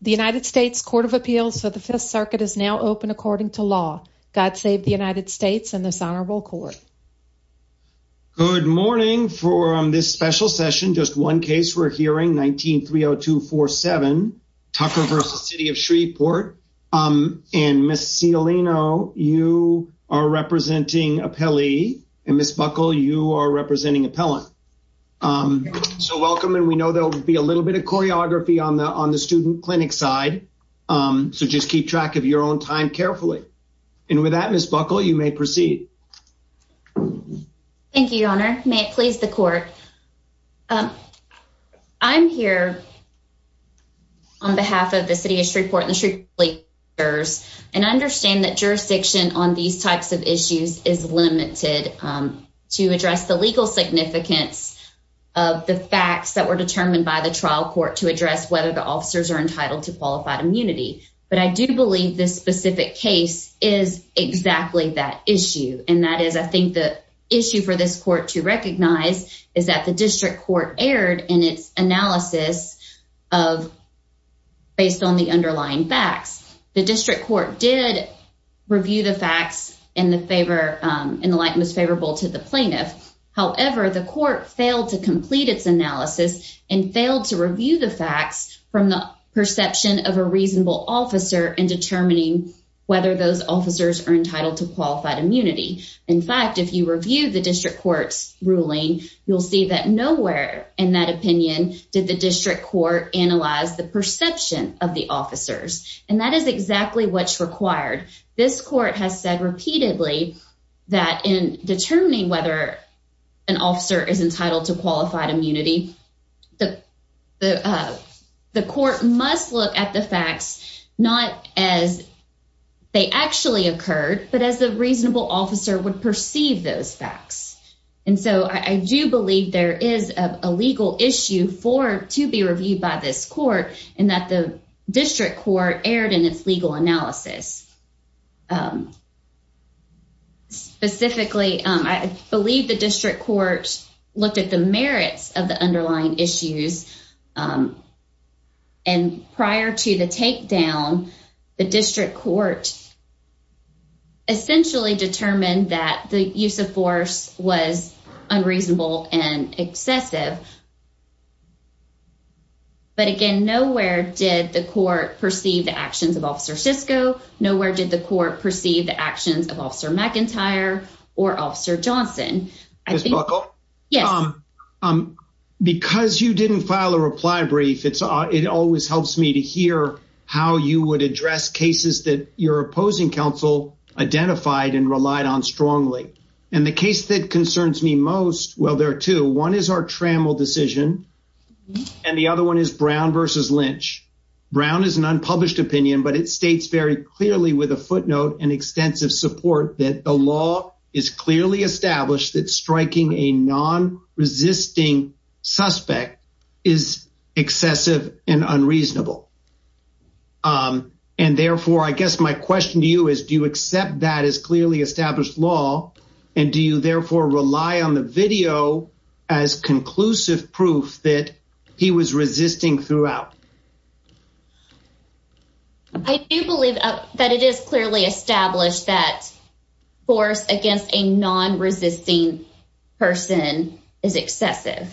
The United States Court of Appeals for the Fifth Circuit is now open according to law. God save the United States and this honorable court. Good morning for this special session. Just one case we're hearing, 19-30247, Tucker v. City of Shreveport. And Ms. Cialino, you are representing appellee, and Ms. Buckle, you are representing appellant. So welcome, and we know there will be a little bit of clinic side, so just keep track of your own time carefully. And with that, Ms. Buckle, you may proceed. Thank you, your honor. May it please the court. I'm here on behalf of the City of Shreveport and the Shreveport police officers, and I understand that jurisdiction on these types of issues is limited to address the legal significance of the facts that were determined by the trial court to address whether the officers are entitled to qualified immunity. But I do believe this specific case is exactly that issue. And that is, I think the issue for this court to recognize is that the district court erred in its analysis of based on the underlying facts. The district court did review the facts in the favor and the light was favorable to the plaintiff. However, the court failed to complete its analysis and failed to review the facts from the perception of a reasonable officer in determining whether those officers are entitled to qualified immunity. In fact, if you review the district court's ruling, you'll see that nowhere in that opinion did the district court analyze the perception of the officers. And that is exactly what's required. This court has said repeatedly that in determining whether an officer is entitled to qualified immunity, the court must look at the facts not as they actually occurred, but as a reasonable officer would perceive those facts. And so I do believe there is a legal issue to be reviewed by this district court erred in its legal analysis. Specifically, I believe the district court looked at the merits of the underlying issues. And prior to the takedown, the district court essentially determined that the use of force was unreasonable and excessive. But again, nowhere did the court perceive the actions of Officer Sisco. Nowhere did the court perceive the actions of Officer McIntyre or Officer Johnson. Ms. Buckle? Yes. Because you didn't file a reply brief, it always helps me to hear how you would address cases that your opposing counsel identified and relied on strongly. And the case that concerns me most, well, there are two. One is our trammel decision. And the other one is Brown versus Lynch. Brown is an unpublished opinion, but it states very clearly with a footnote and extensive support that the law is clearly established that striking a non-resisting suspect is excessive and unreasonable. And therefore, I guess my question to you is, do you accept that as clearly established law? And do you therefore rely on the video as conclusive proof that he was resisting throughout? I do believe that it is clearly established that force against a non-resisting person is excessive.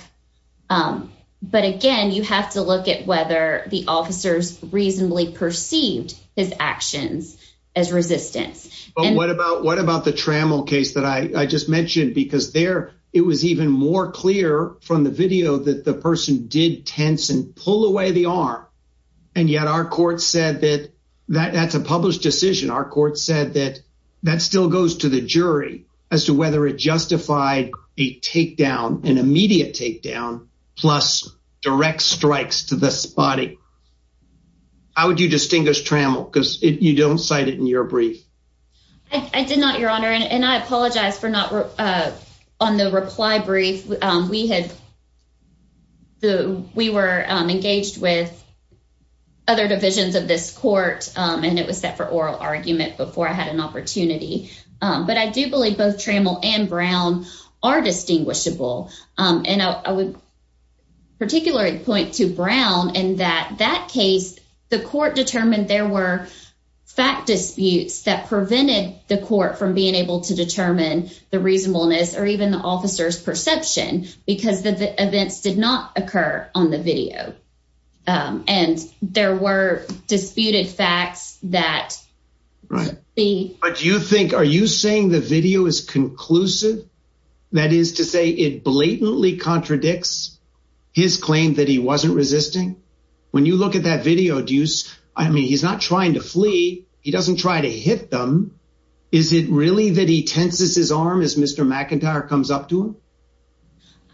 But again, you have to look at whether the officers reasonably perceived his actions as resistance. But what about the trammel case that I just mentioned? Because there, it was even more clear from the video that the person did tense and pull away the arm. And yet our court said that that's a published decision. Our court said that that still goes to the jury as to whether it justified a takedown, an immediate takedown, plus direct strikes to the brief. I did not, Your Honor. And I apologize for not on the reply brief. We were engaged with other divisions of this court, and it was set for oral argument before I had an opportunity. But I do believe both Trammell and Brown are distinguishable. And I would particularly point to Brown in that that case, the court determined there were fact disputes that prevented the court from being able to determine the reasonableness or even the officer's perception because the events did not occur on the video. And there were disputed facts that. Right. But do you think, are you saying the video is conclusive? That is to say it blatantly contradicts his claim that he wasn't resisting. When you look at that video, Deuce, I mean, he's not trying to flee. He doesn't try to hit them. Is it really that he tenses his arm as Mr. McIntyre comes up to him?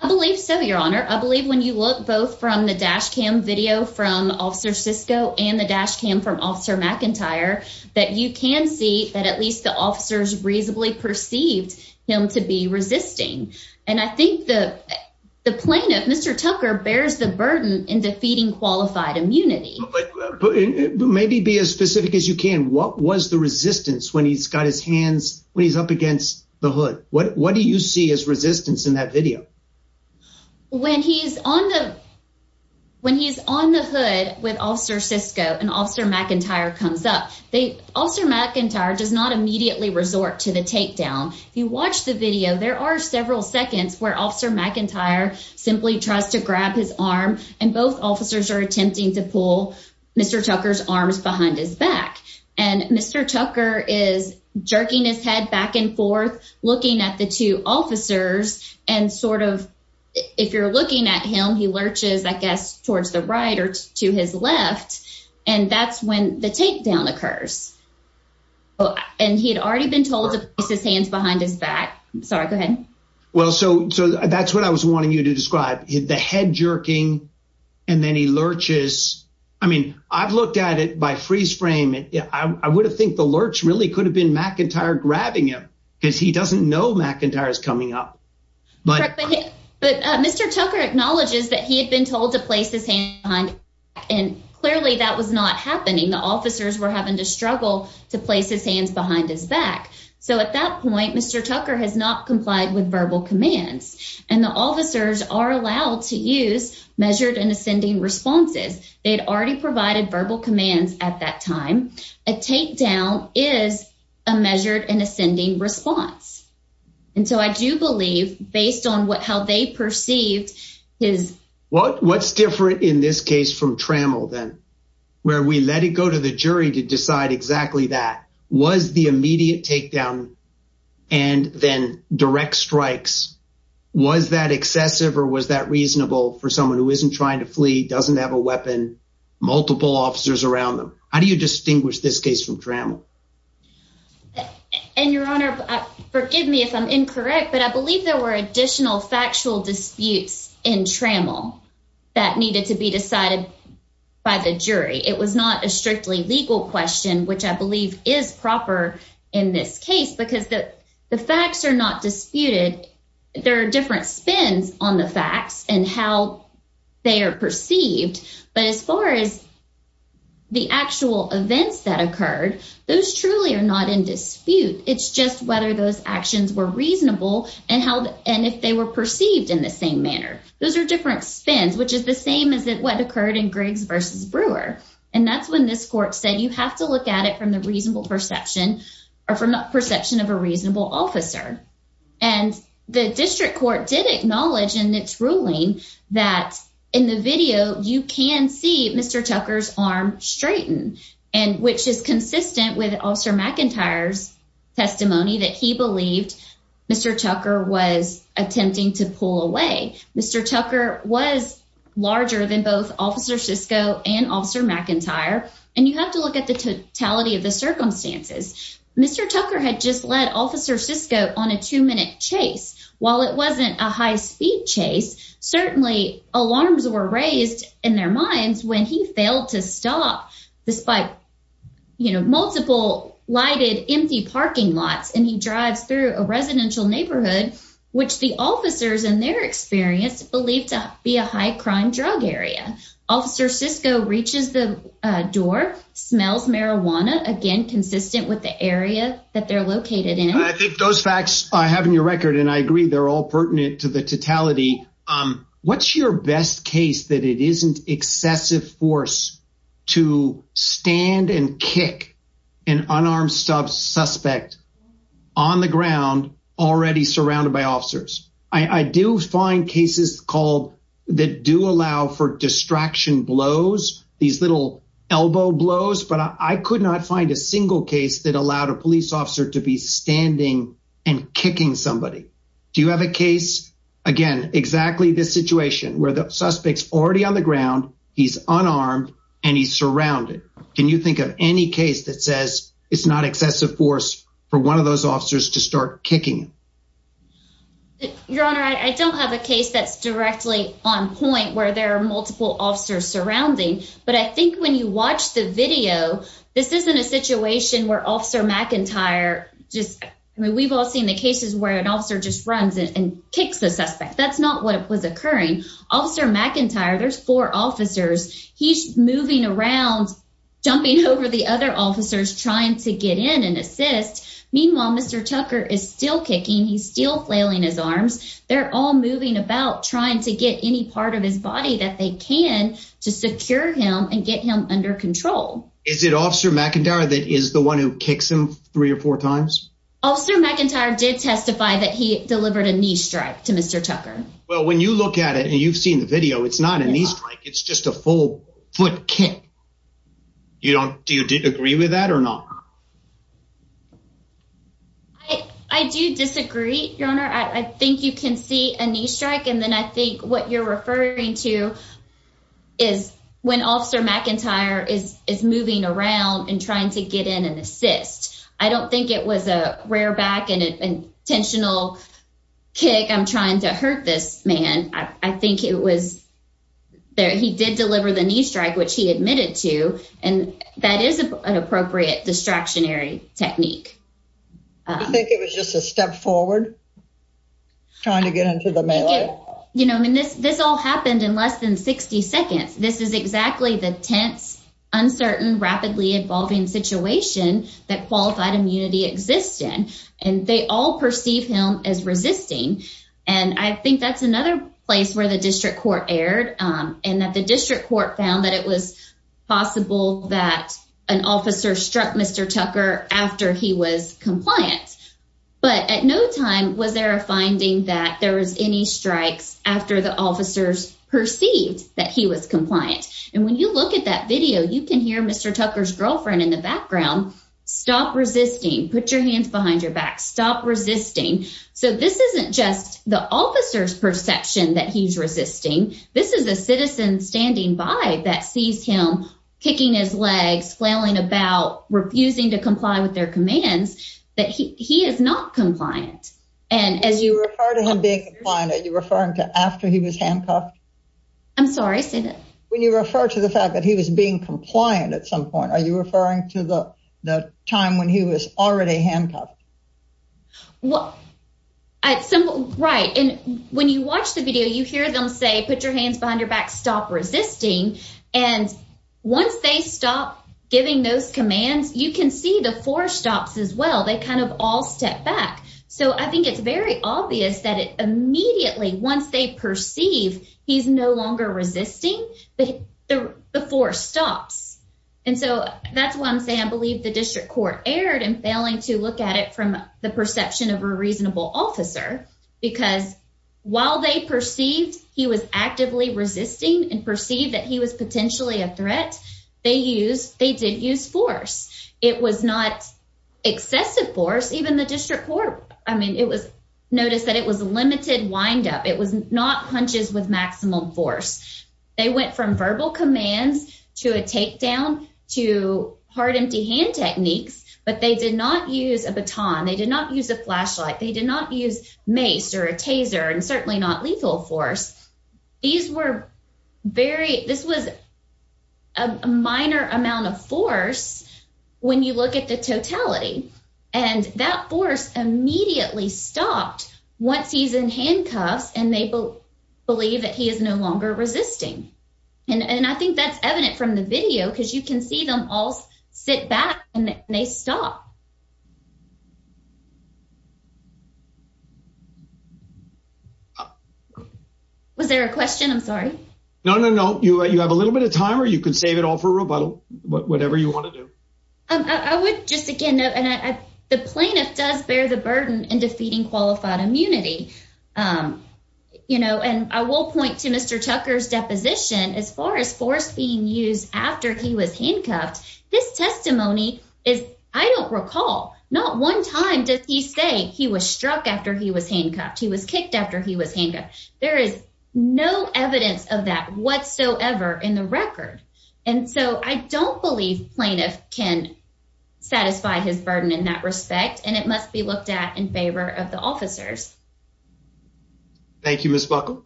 I believe so, Your Honor. I believe when you look both from the dash cam video from Officer Sisko and the dash cam from Officer McIntyre, that you can see that at least the officers reasonably perceived him to be resisting. And I think the plaintiff, Mr. Tucker, bears the burden in defeating qualified immunity. Maybe be as specific as you can. What was the resistance when he's got his hands, when he's up against the hood? What do you see as resistance in that video? When he's on the, when he's on the hood with Officer Sisko and Officer McIntyre comes up, Officer McIntyre does not immediately resort to the takedown. If you watch the video, there are several seconds where Officer McIntyre simply tries to grab his arm and both officers are attempting to pull Mr. Tucker's arms behind his back. And Mr. Tucker is jerking his head back and forth, looking at the two officers and sort of, if you're looking at him, he lurches, I guess, to his left. And that's when the takedown occurs. And he had already been told to place his hands behind his back. Sorry, go ahead. Well, so that's what I was wanting you to describe, the head jerking, and then he lurches. I mean, I've looked at it by freeze frame, and I would have think the lurch really could have been McIntyre grabbing him because he doesn't know McIntyre is coming up. But Mr. Tucker acknowledges that he had been told to place his hands behind his back, and clearly that was not happening. The officers were having to struggle to place his hands behind his back. So at that point, Mr. Tucker has not complied with verbal commands. And the officers are allowed to use measured and ascending responses. They'd already provided verbal commands at that time. A takedown is a measured and ascending response. And so I do based on how they perceived his- What's different in this case from Trammell then, where we let it go to the jury to decide exactly that? Was the immediate takedown and then direct strikes, was that excessive or was that reasonable for someone who isn't trying to flee, doesn't have a weapon, multiple officers around them? How do you distinguish this case from Trammell? And Your Honor, forgive me if I'm incorrect, but I believe there were additional factual disputes in Trammell that needed to be decided by the jury. It was not a strictly legal question, which I believe is proper in this case because the facts are not disputed. There are different spins on the facts and how they are perceived. But as far as the actual events that occurred, those truly are not in dispute. It's just whether those actions were reasonable and if they were perceived in the same manner. Those are different spins, which is the same as what occurred in Griggs versus Brewer. And that's when this court said, you have to look at it from the perception of a reasonable officer. And the district court did acknowledge in its ruling that in the video, you can see Mr. Tucker's arm straightened, which is consistent with Officer McIntyre's testimony that he believed Mr. Tucker was attempting to pull away. Mr. Tucker was larger than both Officer Sisko and Officer McIntyre. And you have to look at the totality of the circumstances. Mr. Tucker had just led Officer Sisko on a two-minute chase. While it alarms were raised in their minds when he failed to stop despite multiple lighted, empty parking lots. And he drives through a residential neighborhood, which the officers in their experience believed to be a high crime drug area. Officer Sisko reaches the door, smells marijuana, again, consistent with the area that they're located in. I think those facts I have in your record, and I agree they're all pertinent to the totality. What's your best case that it isn't excessive force to stand and kick an unarmed suspect on the ground already surrounded by officers? I do find cases that do allow for distraction blows, these little elbow blows, but I could not find a single case that allowed a police officer to be suspects already on the ground. He's unarmed and he's surrounded. Can you think of any case that says it's not excessive force for one of those officers to start kicking? Your Honor, I don't have a case that's directly on point where there are multiple officers surrounding. But I think when you watch the video, this isn't a situation where Officer McIntyre just, I mean, we've all seen the cases where an officer just runs and kicks the suspect. That's not what was occurring. Officer McIntyre, there's four officers. He's moving around, jumping over the other officers trying to get in and assist. Meanwhile, Mr. Tucker is still kicking. He's still flailing his arms. They're all moving about trying to get any part of his body that they can to secure him and get him under control. Is it Officer McIntyre that is the one who kicks him three or four times? Officer McIntyre did testify that he delivered a knee strike to Mr. Tucker. Well, when you look at it and you've seen the video, it's not a knee strike. It's just a full foot kick. Do you agree with that or not? I do disagree, Your Honor. I think you can see a knee strike and then I think what you're referring to is when Officer McIntyre is moving around and trying to get in and assist. I don't think it was a rare back and intentional kick. I'm trying to hurt this man. I think it was there. He did deliver the knee strike, which he admitted to, and that is an appropriate distractionary technique. Do you think it was just a step forward trying to get into the melee? This all happened in less than 60 seconds. This is exactly the tense, uncertain, rapidly evolving situation that qualified immunity exists in. They all perceive him as resisting. I think that's another place where the district court erred and that the district court found that it was possible that an officer struck Mr. Tucker after he was compliant. But at no time was there a finding that there was any strikes after the officers perceived that he was compliant. When you look at that video, you can hear Mr. Tucker's girlfriend in the background. Stop resisting. Put your hands behind your back. Stop resisting. So this isn't just the officer's perception that he's resisting. This is a citizen standing by that sees him kicking his legs, flailing about, refusing to comply with their commands, that he is not compliant. As you refer to him being compliant, are you referring to the fact that he was being compliant at some point? Are you referring to the time when he was already handcuffed? When you watch the video, you hear them say, put your hands behind your back. Stop resisting. Once they stop giving those commands, you can see the four stops as well. They kind of all step back. So I think it's very obvious that it immediately, once they perceive he's no longer resisting, the four stops. And so that's why I'm saying I believe the district court erred in failing to look at it from the perception of a reasonable officer. Because while they perceived he was actively resisting and perceived that he was potentially a threat, they did use force. It was not excessive force. Even the district court, I mean, it was noticed that it was a limited windup. It was not punches with maximum force. They went from verbal commands to a takedown to hard empty hand techniques, but they did not use a baton. They did not use a flashlight. They did not use mace or a taser and certainly not lethal force. These were very, this was a minor amount of they believe that he is no longer resisting. And I think that's evident from the video because you can see them all sit back and they stop. Was there a question? I'm sorry. No, no, no. You have a little bit of time or you can save it all for rebuttal, whatever you want to do. I would just again, the plaintiff does bear the burden in defeating qualified immunity. And I will point to Mr. Tucker's deposition as far as force being used after he was handcuffed. This testimony is, I don't recall not one time did he say he was struck after he was handcuffed. He was kicked after he was handcuffed. There is no evidence of that whatsoever in the record. And so I don't believe plaintiff can satisfy his burden in that of the officers. Thank you, Ms. Buckle.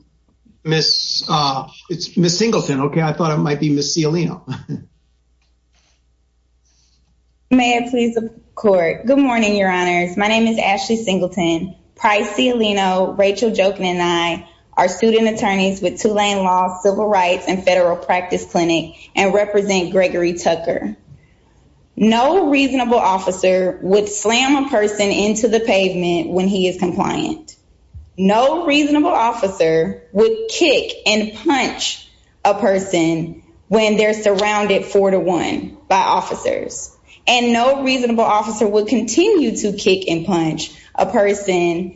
It's Ms. Singleton. Okay. I thought it might be Ms. Cialino. May it please the court. Good morning, your honors. My name is Ashley Singleton, Price Cialino, Rachel Joken and I are student attorneys with Tulane Law, Civil Rights and Federal Practice Clinic and represent Gregory Tucker. No reasonable officer would slam a person into the pavement when he is compliant. No reasonable officer would kick and punch a person when they're surrounded four to one by officers. And no reasonable officer would continue to kick and punch a person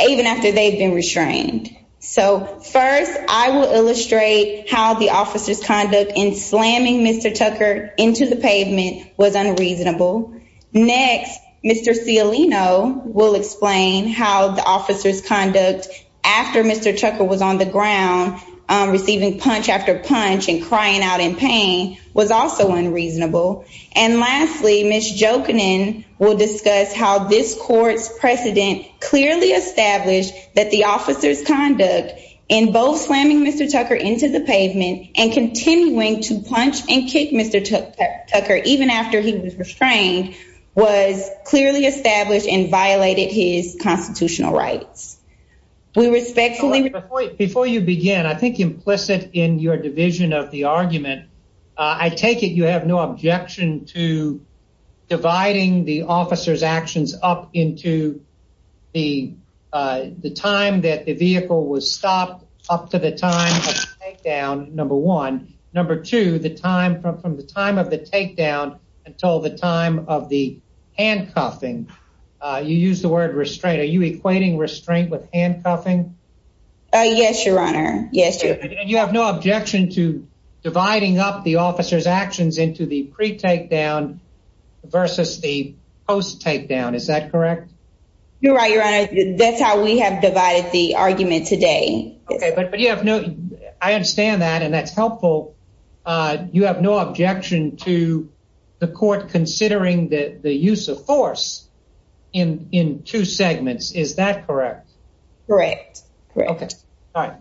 even after they've been restrained. So first I will illustrate how the officer's conduct in slamming Mr. Tucker into the pavement was unreasonable. Next, Mr. Cialino will explain how the officer's conduct after Mr. Tucker was on the ground receiving punch after punch and crying out in pain was also unreasonable. And lastly, Ms. Joken will discuss how this court's precedent clearly established that the officer's conduct in both slamming Mr. Tucker into the pavement and continuing to punch and kick Mr. Tucker even after he was restrained was clearly established and violated his constitutional rights. We respectfully... Before you begin, I think implicit in your division of the argument, I take it you have no objection to dividing the officer's actions up into the time that the vehicle was stopped up to the time of the takedown, number one. Number two, the time from the time of the takedown until the time of the handcuffing. You use the word restraint. Are you equating restraint with handcuffing? Yes, your honor. Yes. And you have no objection to dividing up the officer's actions into the pre-takedown versus the post takedown. Is that correct? You're right, your honor. That's how we have divided the argument today. Okay, but you have no... I understand that and that's helpful. You have no objection to the court considering the use of force in two segments. Is that correct? Correct. Okay. All right.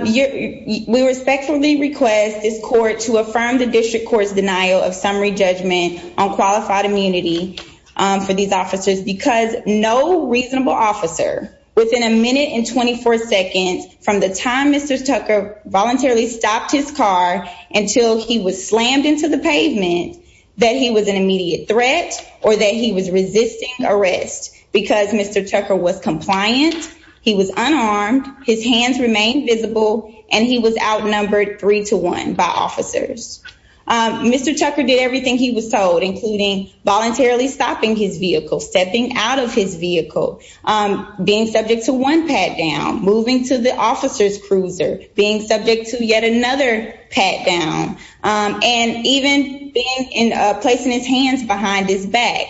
We respectfully request this court to affirm the district court's denial of summary judgment on qualified immunity for these officers because no reasonable officer within a minute and 24 seconds from the time Mr. Tucker voluntarily stopped his car until he was slammed into the pavement that he was an immediate threat or that he was resisting arrest because Mr. Tucker was compliant, he was unarmed, his hands remained visible, and he was outnumbered three to one by including voluntarily stopping his vehicle, stepping out of his vehicle, being subject to one pat down, moving to the officer's cruiser, being subject to yet another pat down, and even being in a place in his hands behind his back.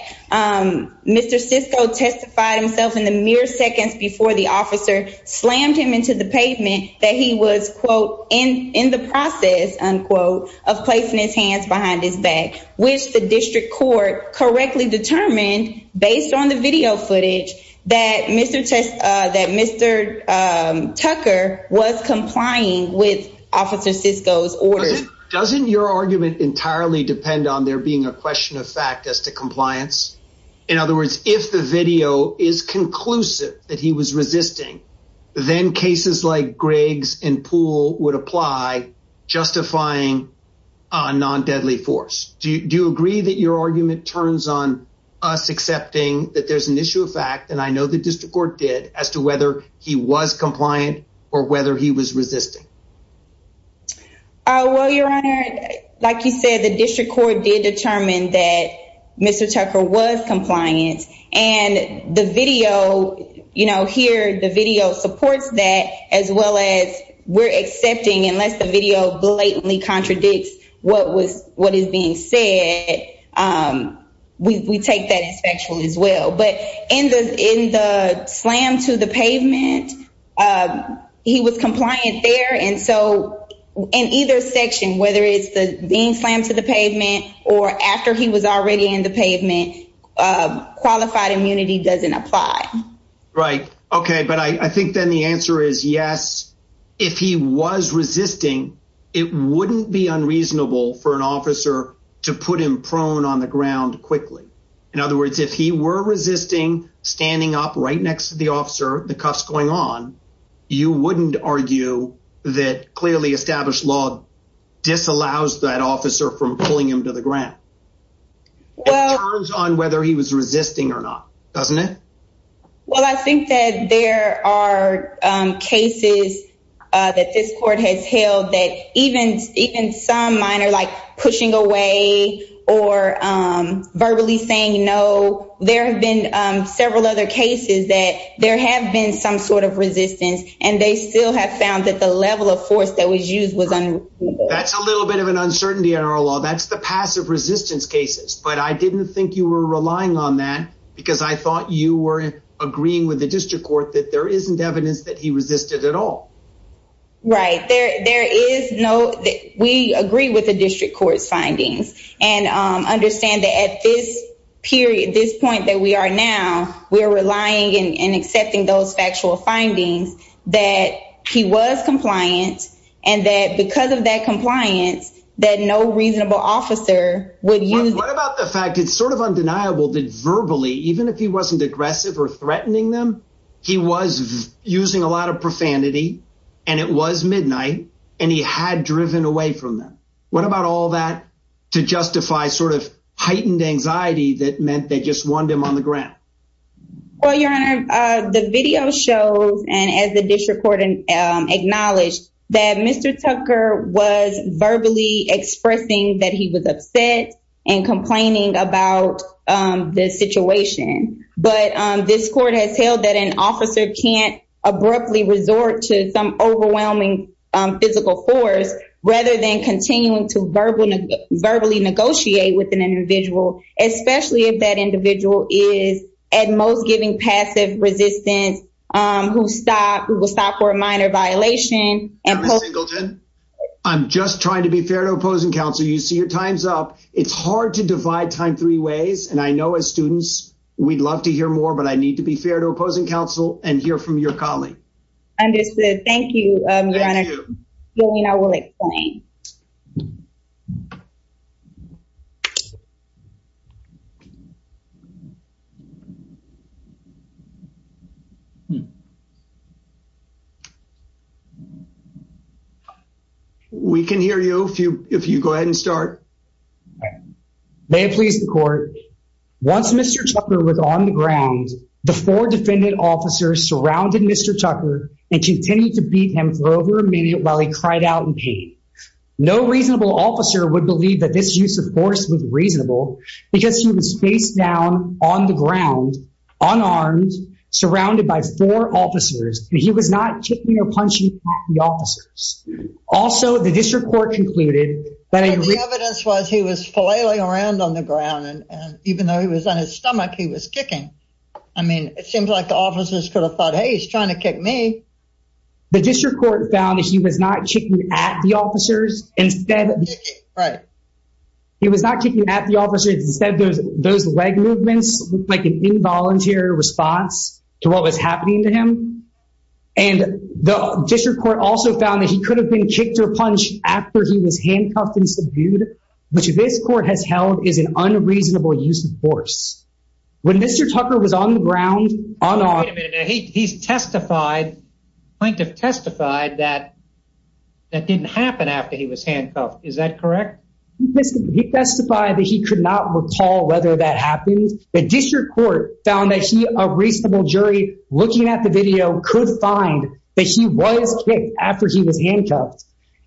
Mr. Sisco testified himself in the mere seconds before the officer slammed him into the pavement that he was, quote, in the process, unquote, of placing his hands behind his back, which the district court correctly determined based on the video footage that Mr. Tucker was complying with Officer Sisco's orders. Doesn't your argument entirely depend on there being a question of fact as to compliance? In other words, if the video is conclusive that he was resisting, then cases like Gregg's and Poole would apply, justifying a non-deadly force. Do you agree that your argument turns on us accepting that there's an issue of fact, and I know the district court did, as to whether he was compliant or whether he was resisting? Well, your honor, like you said, district court did determine that Mr. Tucker was compliant. And the video, you know, here, the video supports that, as well as we're accepting, unless the video blatantly contradicts what is being said, we take that as factual as well. But in the slam to the pavement, he was compliant there. And so in either section, whether it's the being slammed to the pavement or after he was already in the pavement, qualified immunity doesn't apply. Right. Okay. But I think then the answer is yes. If he was resisting, it wouldn't be unreasonable for an officer to put him prone on the ground quickly. In other words, if he were resisting, standing up right next to the officer, the cuffs going on, you wouldn't argue that clearly established law disallows that officer from pulling him to the ground. It turns on whether he was resisting or not, doesn't it? Well, I think that there are cases that this court has held that even some minor, like pushing away or verbally saying no, there have been several other cases that there have been some sort of resistance and they still have found that the level of force that was used was unreasonable. That's a little bit of an uncertainty in our law. That's the passive resistance cases. But I didn't think you were relying on that because I thought you were agreeing with the district court that there isn't evidence that he resisted at all. Right. There is no, we agree with the district court's findings and understand that at this period, this point that we are now, we are relying and accepting those factual findings that he was compliant and that because of that compliance, that no reasonable officer would use. What about the fact it's sort of undeniable that verbally, even if he wasn't aggressive or threatening them, he was using a lot of profanity and it was midnight and he had driven away from them. What about all that to justify sort of heightened anxiety that meant they just wanted him on the ground? Well, your honor, the video shows and as the district court acknowledged that Mr. Tucker was verbally expressing that he was upset and complaining about the situation, but this court has held that an officer can't abruptly resort to some overwhelming physical force rather than continuing to verbally negotiate with an individual, especially if that individual is at most giving passive resistance, who will stop for a minor violation. I'm just trying to be fair to opposing counsel. You see your time's up. It's hard to divide time ways and I know as students, we'd love to hear more, but I need to be fair to opposing counsel and hear from your colleague. Understood. Thank you, your honor. We can hear you if you go ahead and start. All right. May it please the court. Once Mr. Tucker was on the ground, the four defendant officers surrounded Mr. Tucker and continued to beat him for over a minute while he cried out in pain. No reasonable officer would believe that this use of force was reasonable because he was faced down on the ground, unarmed, surrounded by four officers, and he was not kicking or around on the ground. And even though he was on his stomach, he was kicking. I mean, it seems like the officers could have thought, hey, he's trying to kick me. The district court found that he was not kicking at the officers. Instead, he was not kicking at the officers. Instead, those leg movements, like an involuntary response to what was happening to him. And the district court also found that he could have been kicked or punched after he was handcuffed and subdued, which this court has held is an unreasonable use of force. When Mr. Tucker was on the ground, unarmed. Wait a minute. He testified, plaintiff testified that that didn't happen after he was handcuffed. Is that correct? He testified that he could not recall whether that happened. The district court found that he, a reasonable jury, looking at the video, could find that he was kicked after he was handcuffed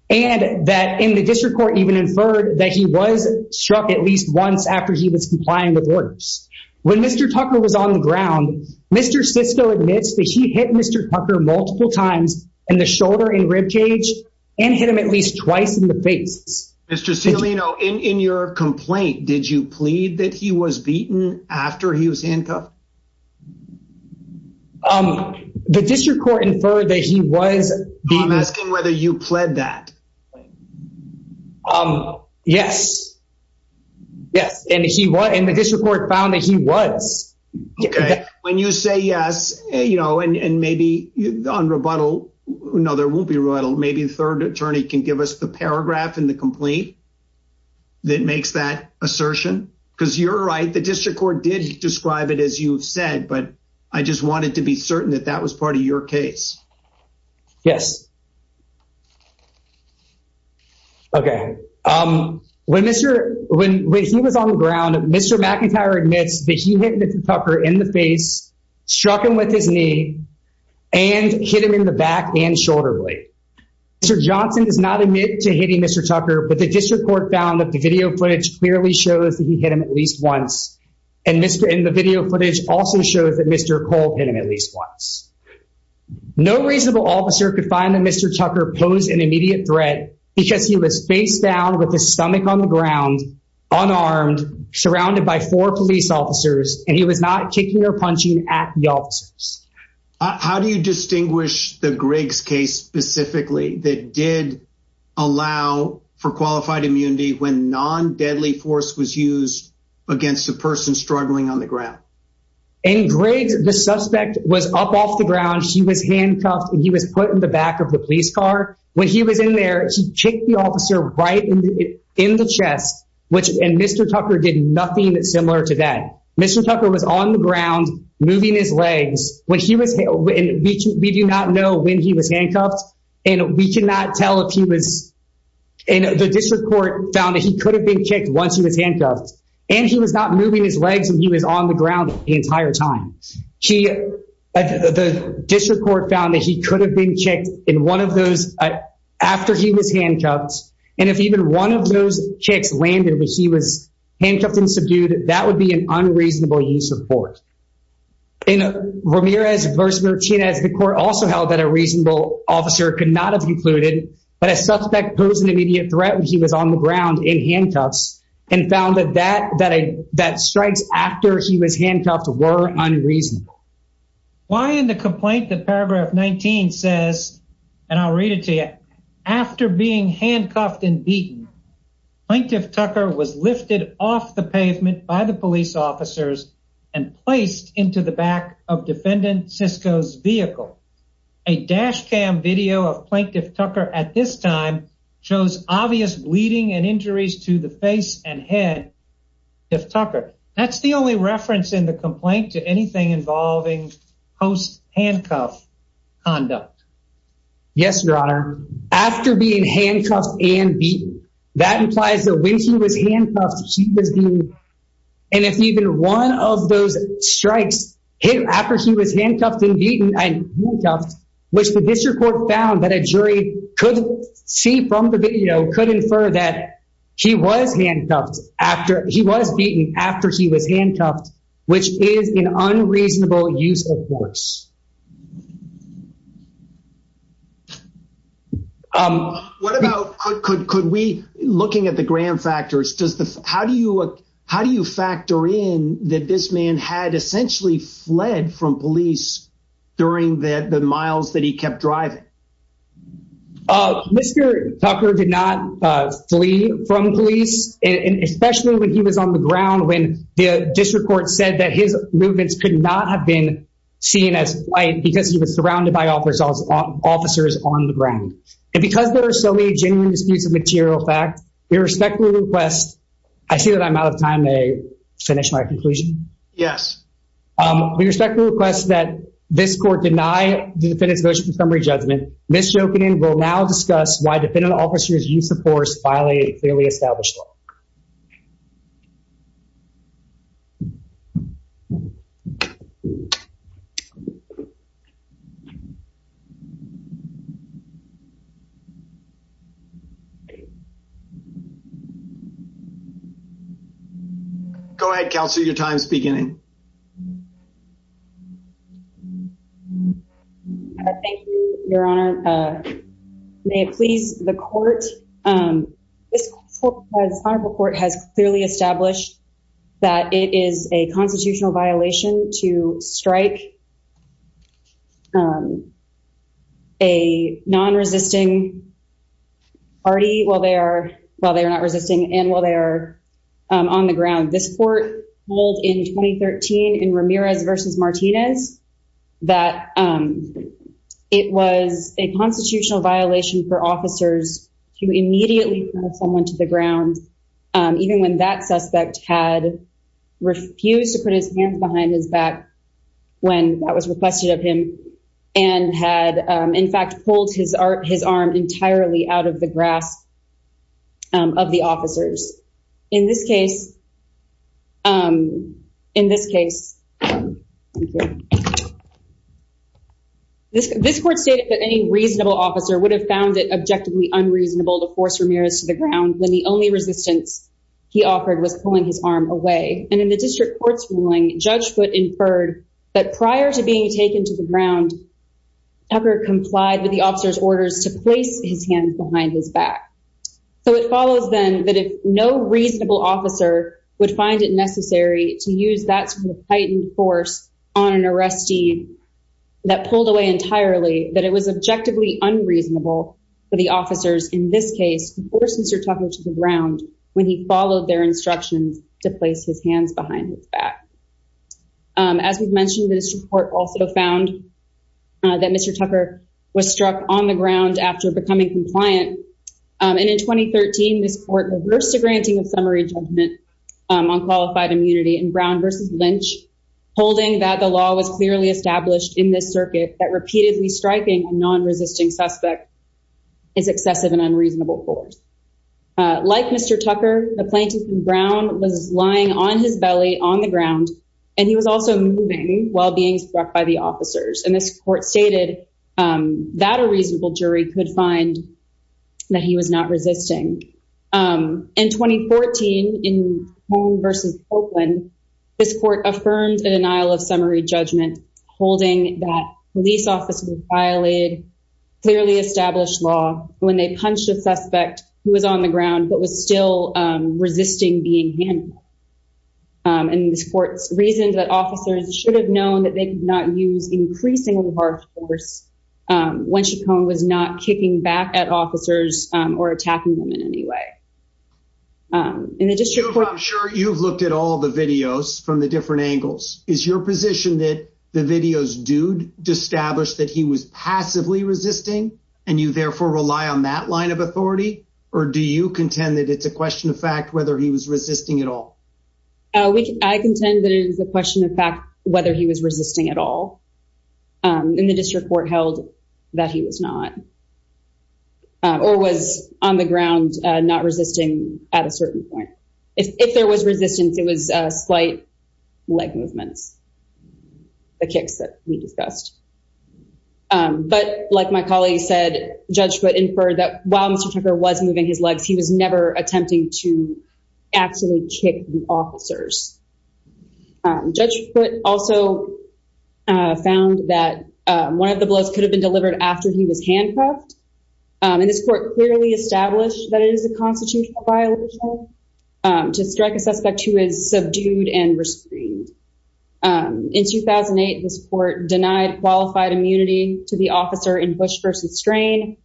and that in the district court even inferred that he was struck at least once after he was complying with orders. When Mr. Tucker was on the ground, Mr. Sisco admits that he hit Mr. Tucker multiple times in the shoulder and rib cage and hit him at least twice in the face. Mr. Celino, in your complaint, did you plead that he was beaten after he was handcuffed? Um, the district court inferred that he was. I'm asking whether you pled that. Um, yes. Yes. And he was in the district court found that he was. Okay. When you say yes, you know, and maybe on rebuttal, no, there won't be rebuttal. Maybe the third attorney can give us the paragraph in the complaint that makes that assertion. Because you're right. The district court did describe it as you've said, but I just wanted to be certain that that was part of your case. Yes. Okay. Um, when Mr. when he was on the ground, Mr. McIntyre admits that he hit Mr. Tucker in the face, struck him with his knee and hit him in the back and shoulder blade. Mr. Johnson does not admit to hitting Mr. Tucker, but the district court found that video footage clearly shows that he hit him at least once. And the video footage also shows that Mr. Cole hit him at least once. No reasonable officer could find that Mr. Tucker posed an immediate threat because he was face down with his stomach on the ground, unarmed, surrounded by four police officers, and he was not kicking or punching at the officers. How do you distinguish the Griggs case specifically that did allow for qualified immunity when non-deadly force was used against the person struggling on the ground? In Griggs, the suspect was up off the ground. She was handcuffed and he was put in the back of the police car. When he was in there, he kicked the officer right in the chest, which Mr. Tucker did nothing similar to that. Mr. Tucker was on the ground, moving his legs. When he was, we do not know when he was handcuffed, and we cannot tell if he was, and the district court found that he could have been kicked once he was handcuffed, and he was not moving his legs and he was on the ground the entire time. The district court found that he could have been kicked in one of those after he was handcuffed, and if even one of those kicks landed when he was handcuffed and subdued, that would be an unreasonable use of force. In Ramirez v. Martinez, the court also held that a reasonable officer could not have concluded that a suspect posed an immediate threat when he was on the ground in handcuffs and found that strikes after he was handcuffed were unreasonable. Why in the complaint that paragraph 19 says, and I'll read it to you, after being handcuffed and beaten, Plaintiff Tucker was lifted off the pavement by the police officers and placed into the back of Defendant Sisco's vehicle. A dash cam video of Plaintiff Tucker at this time shows obvious bleeding and injuries to the face and head of Tucker. That's the only reference in the complaint to anything involving post-handcuff conduct. Yes, your honor, after being handcuffed and beaten, that implies that when he was handcuffed, he was being, and if even one of those strikes hit after he was handcuffed and beaten and handcuffed, which the district court found that a jury could see from the video, could infer that he was handcuffed after, he was beaten after he was handcuffed, which is an unreasonable use of force. What about, could we, looking at the gram factors, does the, how do you, how do you factor in that this man had essentially fled from police during the miles that he kept driving? Mr. Tucker did not flee from police, and especially when he was on the ground when the district court said that his movements could not have been seen as white because he was surrounded by officers on the ground. And because there are so many genuine disputes of material fact, we respectfully request, I see that I'm out of time, may I finish my conclusion? Yes. We respectfully request that this court deny the defendant's motion for summary judgment Ms. Jokinen will now discuss why defendant officers' use of force violate a clearly established law. Go ahead counsel, your time's beginning. Thank you, your honor. May it please the court, this honorable court has clearly established that it is a constitutional violation to strike a non-resisting party while they are, while they are not resisting and while they are on the ground. This court ruled in 2013 in Ramirez versus Martinez that it was a constitutional violation for officers to immediately throw someone to the ground even when that suspect had refused to put his hands behind his back when that was requested of him and had in fact pulled his arm entirely out of the grasp of the officers. In this case, in this case, this court stated that any reasonable officer would have found it objectively unreasonable to force Ramirez to the ground when the only resistance he offered was pulling his arm away. And in the district court's ruling, Judge Foote inferred that prior to being taken to the ground, Tucker complied with the officer's orders to place his hands behind his back. So it follows then that if no reasonable officer would find it necessary to use that sort of heightened force on an arrestee that pulled away entirely, that it was objectively unreasonable for the officers in this case to force Mr. Tucker to the ground when he followed their instructions to place his hands behind his back. As we've mentioned, the district court also found that Mr. Tucker was struck on the ground after becoming compliant. And in 2013, this court reversed the granting of summary judgment on qualified immunity in Brown versus Lynch, holding that the law was clearly established in this circuit that repeatedly striking a non-resisting suspect is excessive and unreasonable force. Like Mr. Tucker, the plaintiff in Brown was lying on his belly on the ground and he was also moving while being struck by the officers. And this court stated that a reasonable jury could find that he was not resisting. In 2014, in Holmes versus Oakland, this court affirmed a denial of summary judgment, holding that police officers violated clearly established law when they punched a suspect who was on the ground but was still resisting being handled. And this court's reason that officers should have known that they could not use increasingly hard force when Chacon was not kicking back at officers or attacking them in any way. In the district court- I'm sure you've looked at all the videos from the different angles. Is your position that the videos do establish that he was passively resisting and you therefore rely on that line of authority or do you contend that it's a question of fact whether he was resisting at all? I contend that it is a question of fact whether he was resisting at all. In the district court held that he was not or was on the ground not resisting at a certain point. If there was resistance, it was slight leg movements, the kicks that we discussed. But like my colleague said, Judge Foote inferred that while Mr. Tucker was moving his legs, he was never attempting to actually kick the officers. Judge Foote also found that one of the blows could have been delivered after he was handcuffed. And this court clearly established that it is a constitutional violation to strike a suspect who is subdued and restrained. In 2008, this court denied qualified immunity to the officer in push versus strain,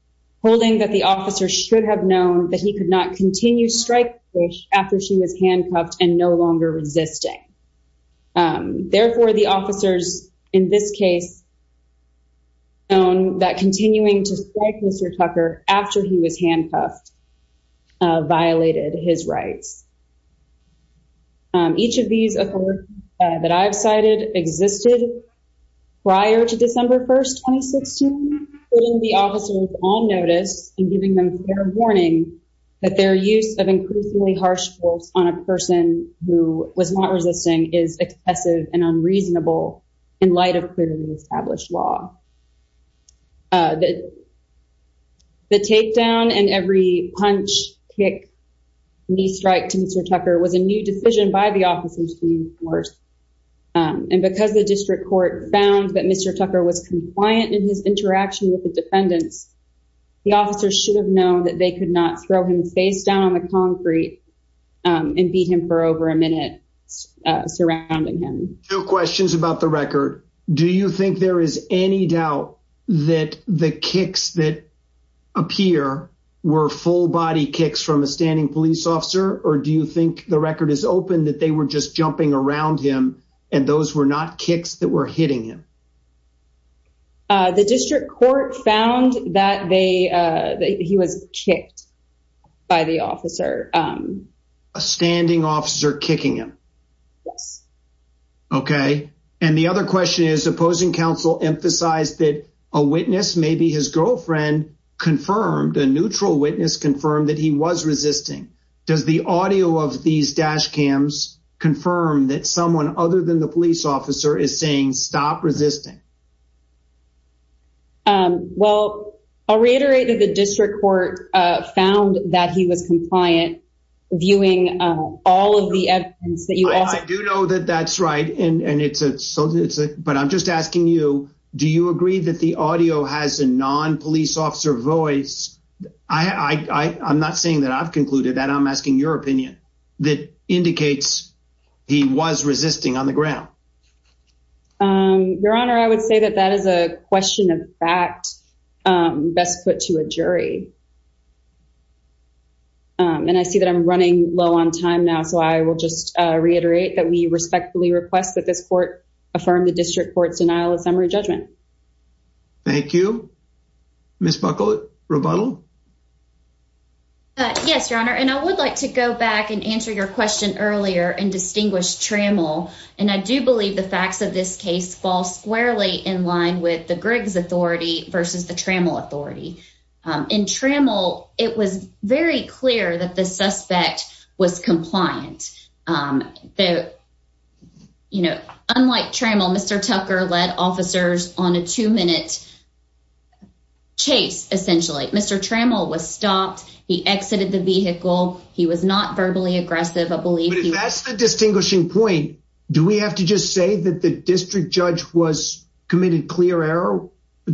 holding that the officer should have known that he could not continue strike push after she was handcuffed and no longer resisting. Therefore, the officers in this case known that continuing to strike Mr. Tucker after he was handcuffed violated his rights. Each of these authorities that I've cited existed prior to December 1st, 2016, holding the officers on notice and giving them fair warning that their use of increasingly harsh force on a person who was not resisting is excessive and unreasonable in light of clearly established law. The takedown and every punch, kick, knee strike to Mr. Tucker was a new decision by the officers to enforce. And because the district court found that Mr. Tucker was compliant in his interaction with the defendants, the officers should have known that they could not throw him face down on the concrete and beat him for over a minute surrounding him. No questions about the record. Do you think there is any doubt that the kicks that appear were full body kicks from a standing police officer? Or do you think the record is open that they were just jumping around him and those were not kicks that were hitting him? The district court found that he was kicked by the officer. A standing officer kicking him? Yes. Okay. And the other question is opposing counsel emphasized that a witness, maybe his girlfriend, confirmed, a neutral witness confirmed that he was resisting. Does the audio of these dash cams confirm that someone other than the police officer is saying stop resisting? Well, I'll reiterate that the district court found that he was compliant, viewing all of the evidence. I do know that that's right. But I'm just asking you, do you agree that the audio has a non-police officer voice? I'm not saying that I've concluded that. I'm asking your opinion that indicates he was resisting on the ground. Your Honor, I would say that that is a question of fact best put to a jury. And I see that I'm running low on time now. So I will just reiterate that we respectfully request that this court affirm the district court's denial of summary judgment. Thank you. Ms. Buckle, rebuttal? Yes, Your Honor. And I would like to go back and answer your question earlier and distinguish Trammell. And I do believe the facts of this case fall squarely in line with the Griggs authority versus the Trammell authority. In Trammell, it was very clear that the suspect was compliant. Unlike Trammell, Mr. Tucker led officers on a two-minute chase, essentially. Mr. Trammell was stopped. He exited the vehicle. He was not verbally aggressive. But if that's the distinguishing point, do we have to just say that the district judge committed clear error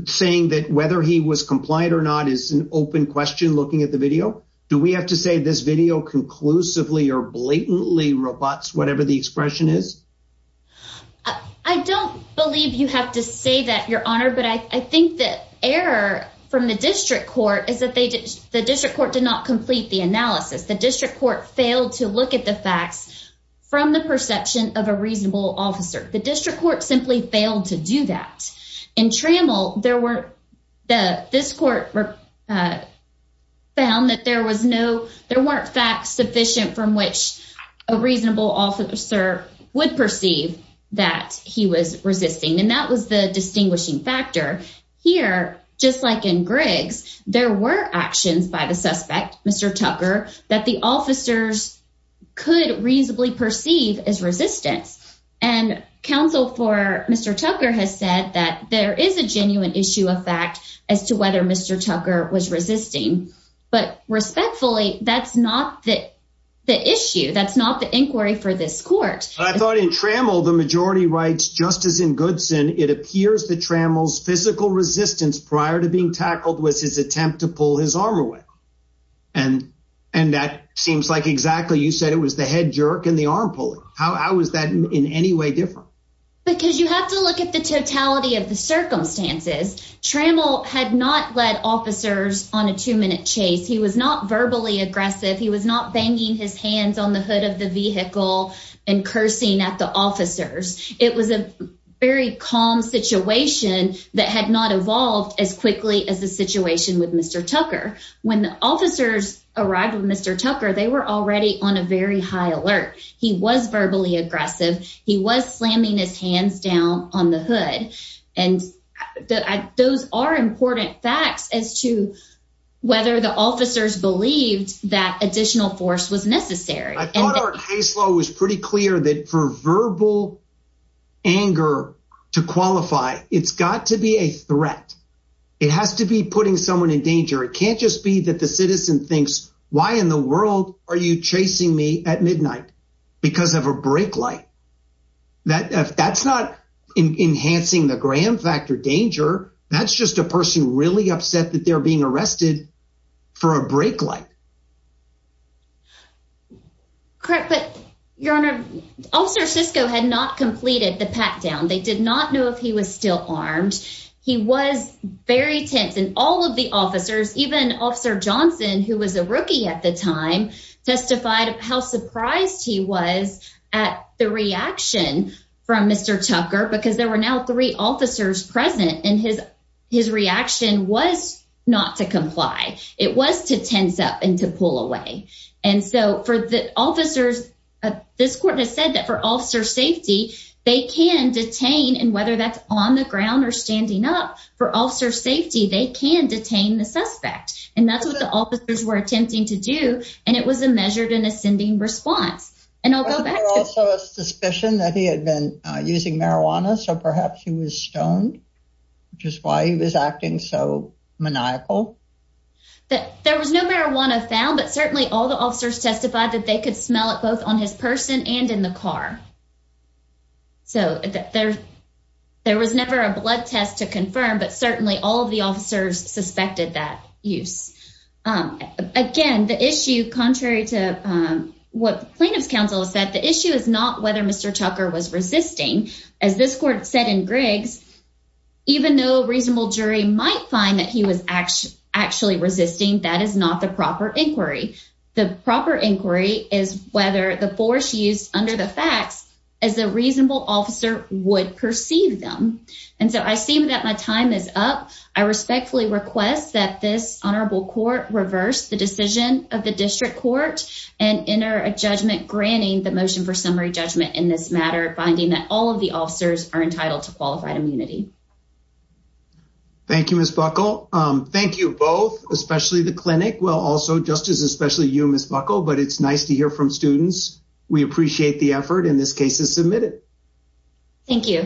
saying that whether he was compliant or not is an open question looking at the video? Do we have to say this video conclusively or blatantly rebutts whatever the expression is? I don't believe you have to say that, Your Honor. But I think the error from the district court is that the district court did not complete the analysis. The district court failed to look at the facts from the perception of a reasonable officer. The district court simply failed to do that. In Trammell, this court found that there weren't facts sufficient from which a reasonable officer would perceive that he was resisting. And that was the distinguishing factor. Here, just like in Griggs, there were actions by the suspect, Mr. Tucker, that the officers could reasonably perceive as resistance. And counsel for Mr. Tucker has said that there is a genuine issue of fact as to whether Mr. Tucker was resisting. But respectfully, that's not the issue. That's not the inquiry for this court. I thought in Trammell, the majority writes, just as in Goodson, it appears that Trammell's physical resistance prior to being And that seems like exactly you said it was the head jerk and the arm pulling. How was that in any way different? Because you have to look at the totality of the circumstances. Trammell had not led officers on a two-minute chase. He was not verbally aggressive. He was not banging his hands on the hood of the vehicle and cursing at the officers. It was a very calm situation that had not evolved as quickly as the situation with Mr. Tucker. When the officers arrived with Mr. Tucker, they were already on a very high alert. He was verbally aggressive. He was slamming his hands down on the hood. And those are important facts as to whether the officers believed that additional force was necessary. I thought our case law was pretty clear that for verbal anger to qualify, it's got to be a threat. It has to be putting someone in danger. It can't just be that the citizen thinks, why in the world are you chasing me at midnight? Because of a brake light. If that's not enhancing the gram factor danger, that's just a person really upset that they're being arrested for a brake light. Correct. But your honor, officer Sisco had not completed the pat down. They did not know if he was still armed. He was very tense. And all of the officers, even officer Johnson, who was a rookie at the time, testified how surprised he was at the reaction from Mr. Tucker, because there were now three officers present and his reaction was not to comply. It was to tense up and to pull away. And so for the officers, this court has said that for officer safety, they can detain and whether that's on the ground or standing up for officer safety, they can detain the suspect. And that's what the officers were attempting to do. And it was a measured and ascending response. And also a suspicion that he had been using marijuana. So perhaps he was stoned, just why he was acting so maniacal that there was no marijuana found. But certainly all the There was never a blood test to confirm, but certainly all of the officers suspected that use. Again, the issue contrary to what plaintiff's counsel said, the issue is not whether Mr. Tucker was resisting. As this court said in Griggs, even though reasonable jury might find that he was actually resisting, that is not the proper inquiry. The proper inquiry is whether the And so I see that my time is up. I respectfully request that this honorable court reverse the decision of the district court and enter a judgment granting the motion for summary judgment in this matter, finding that all of the officers are entitled to qualified immunity. Thank you, Ms. Buckle. Thank you both, especially the clinic. Well, also just as especially you, Ms. Buckle, but it's nice to hear from students. We appreciate the effort in this case is submitted. Thank you.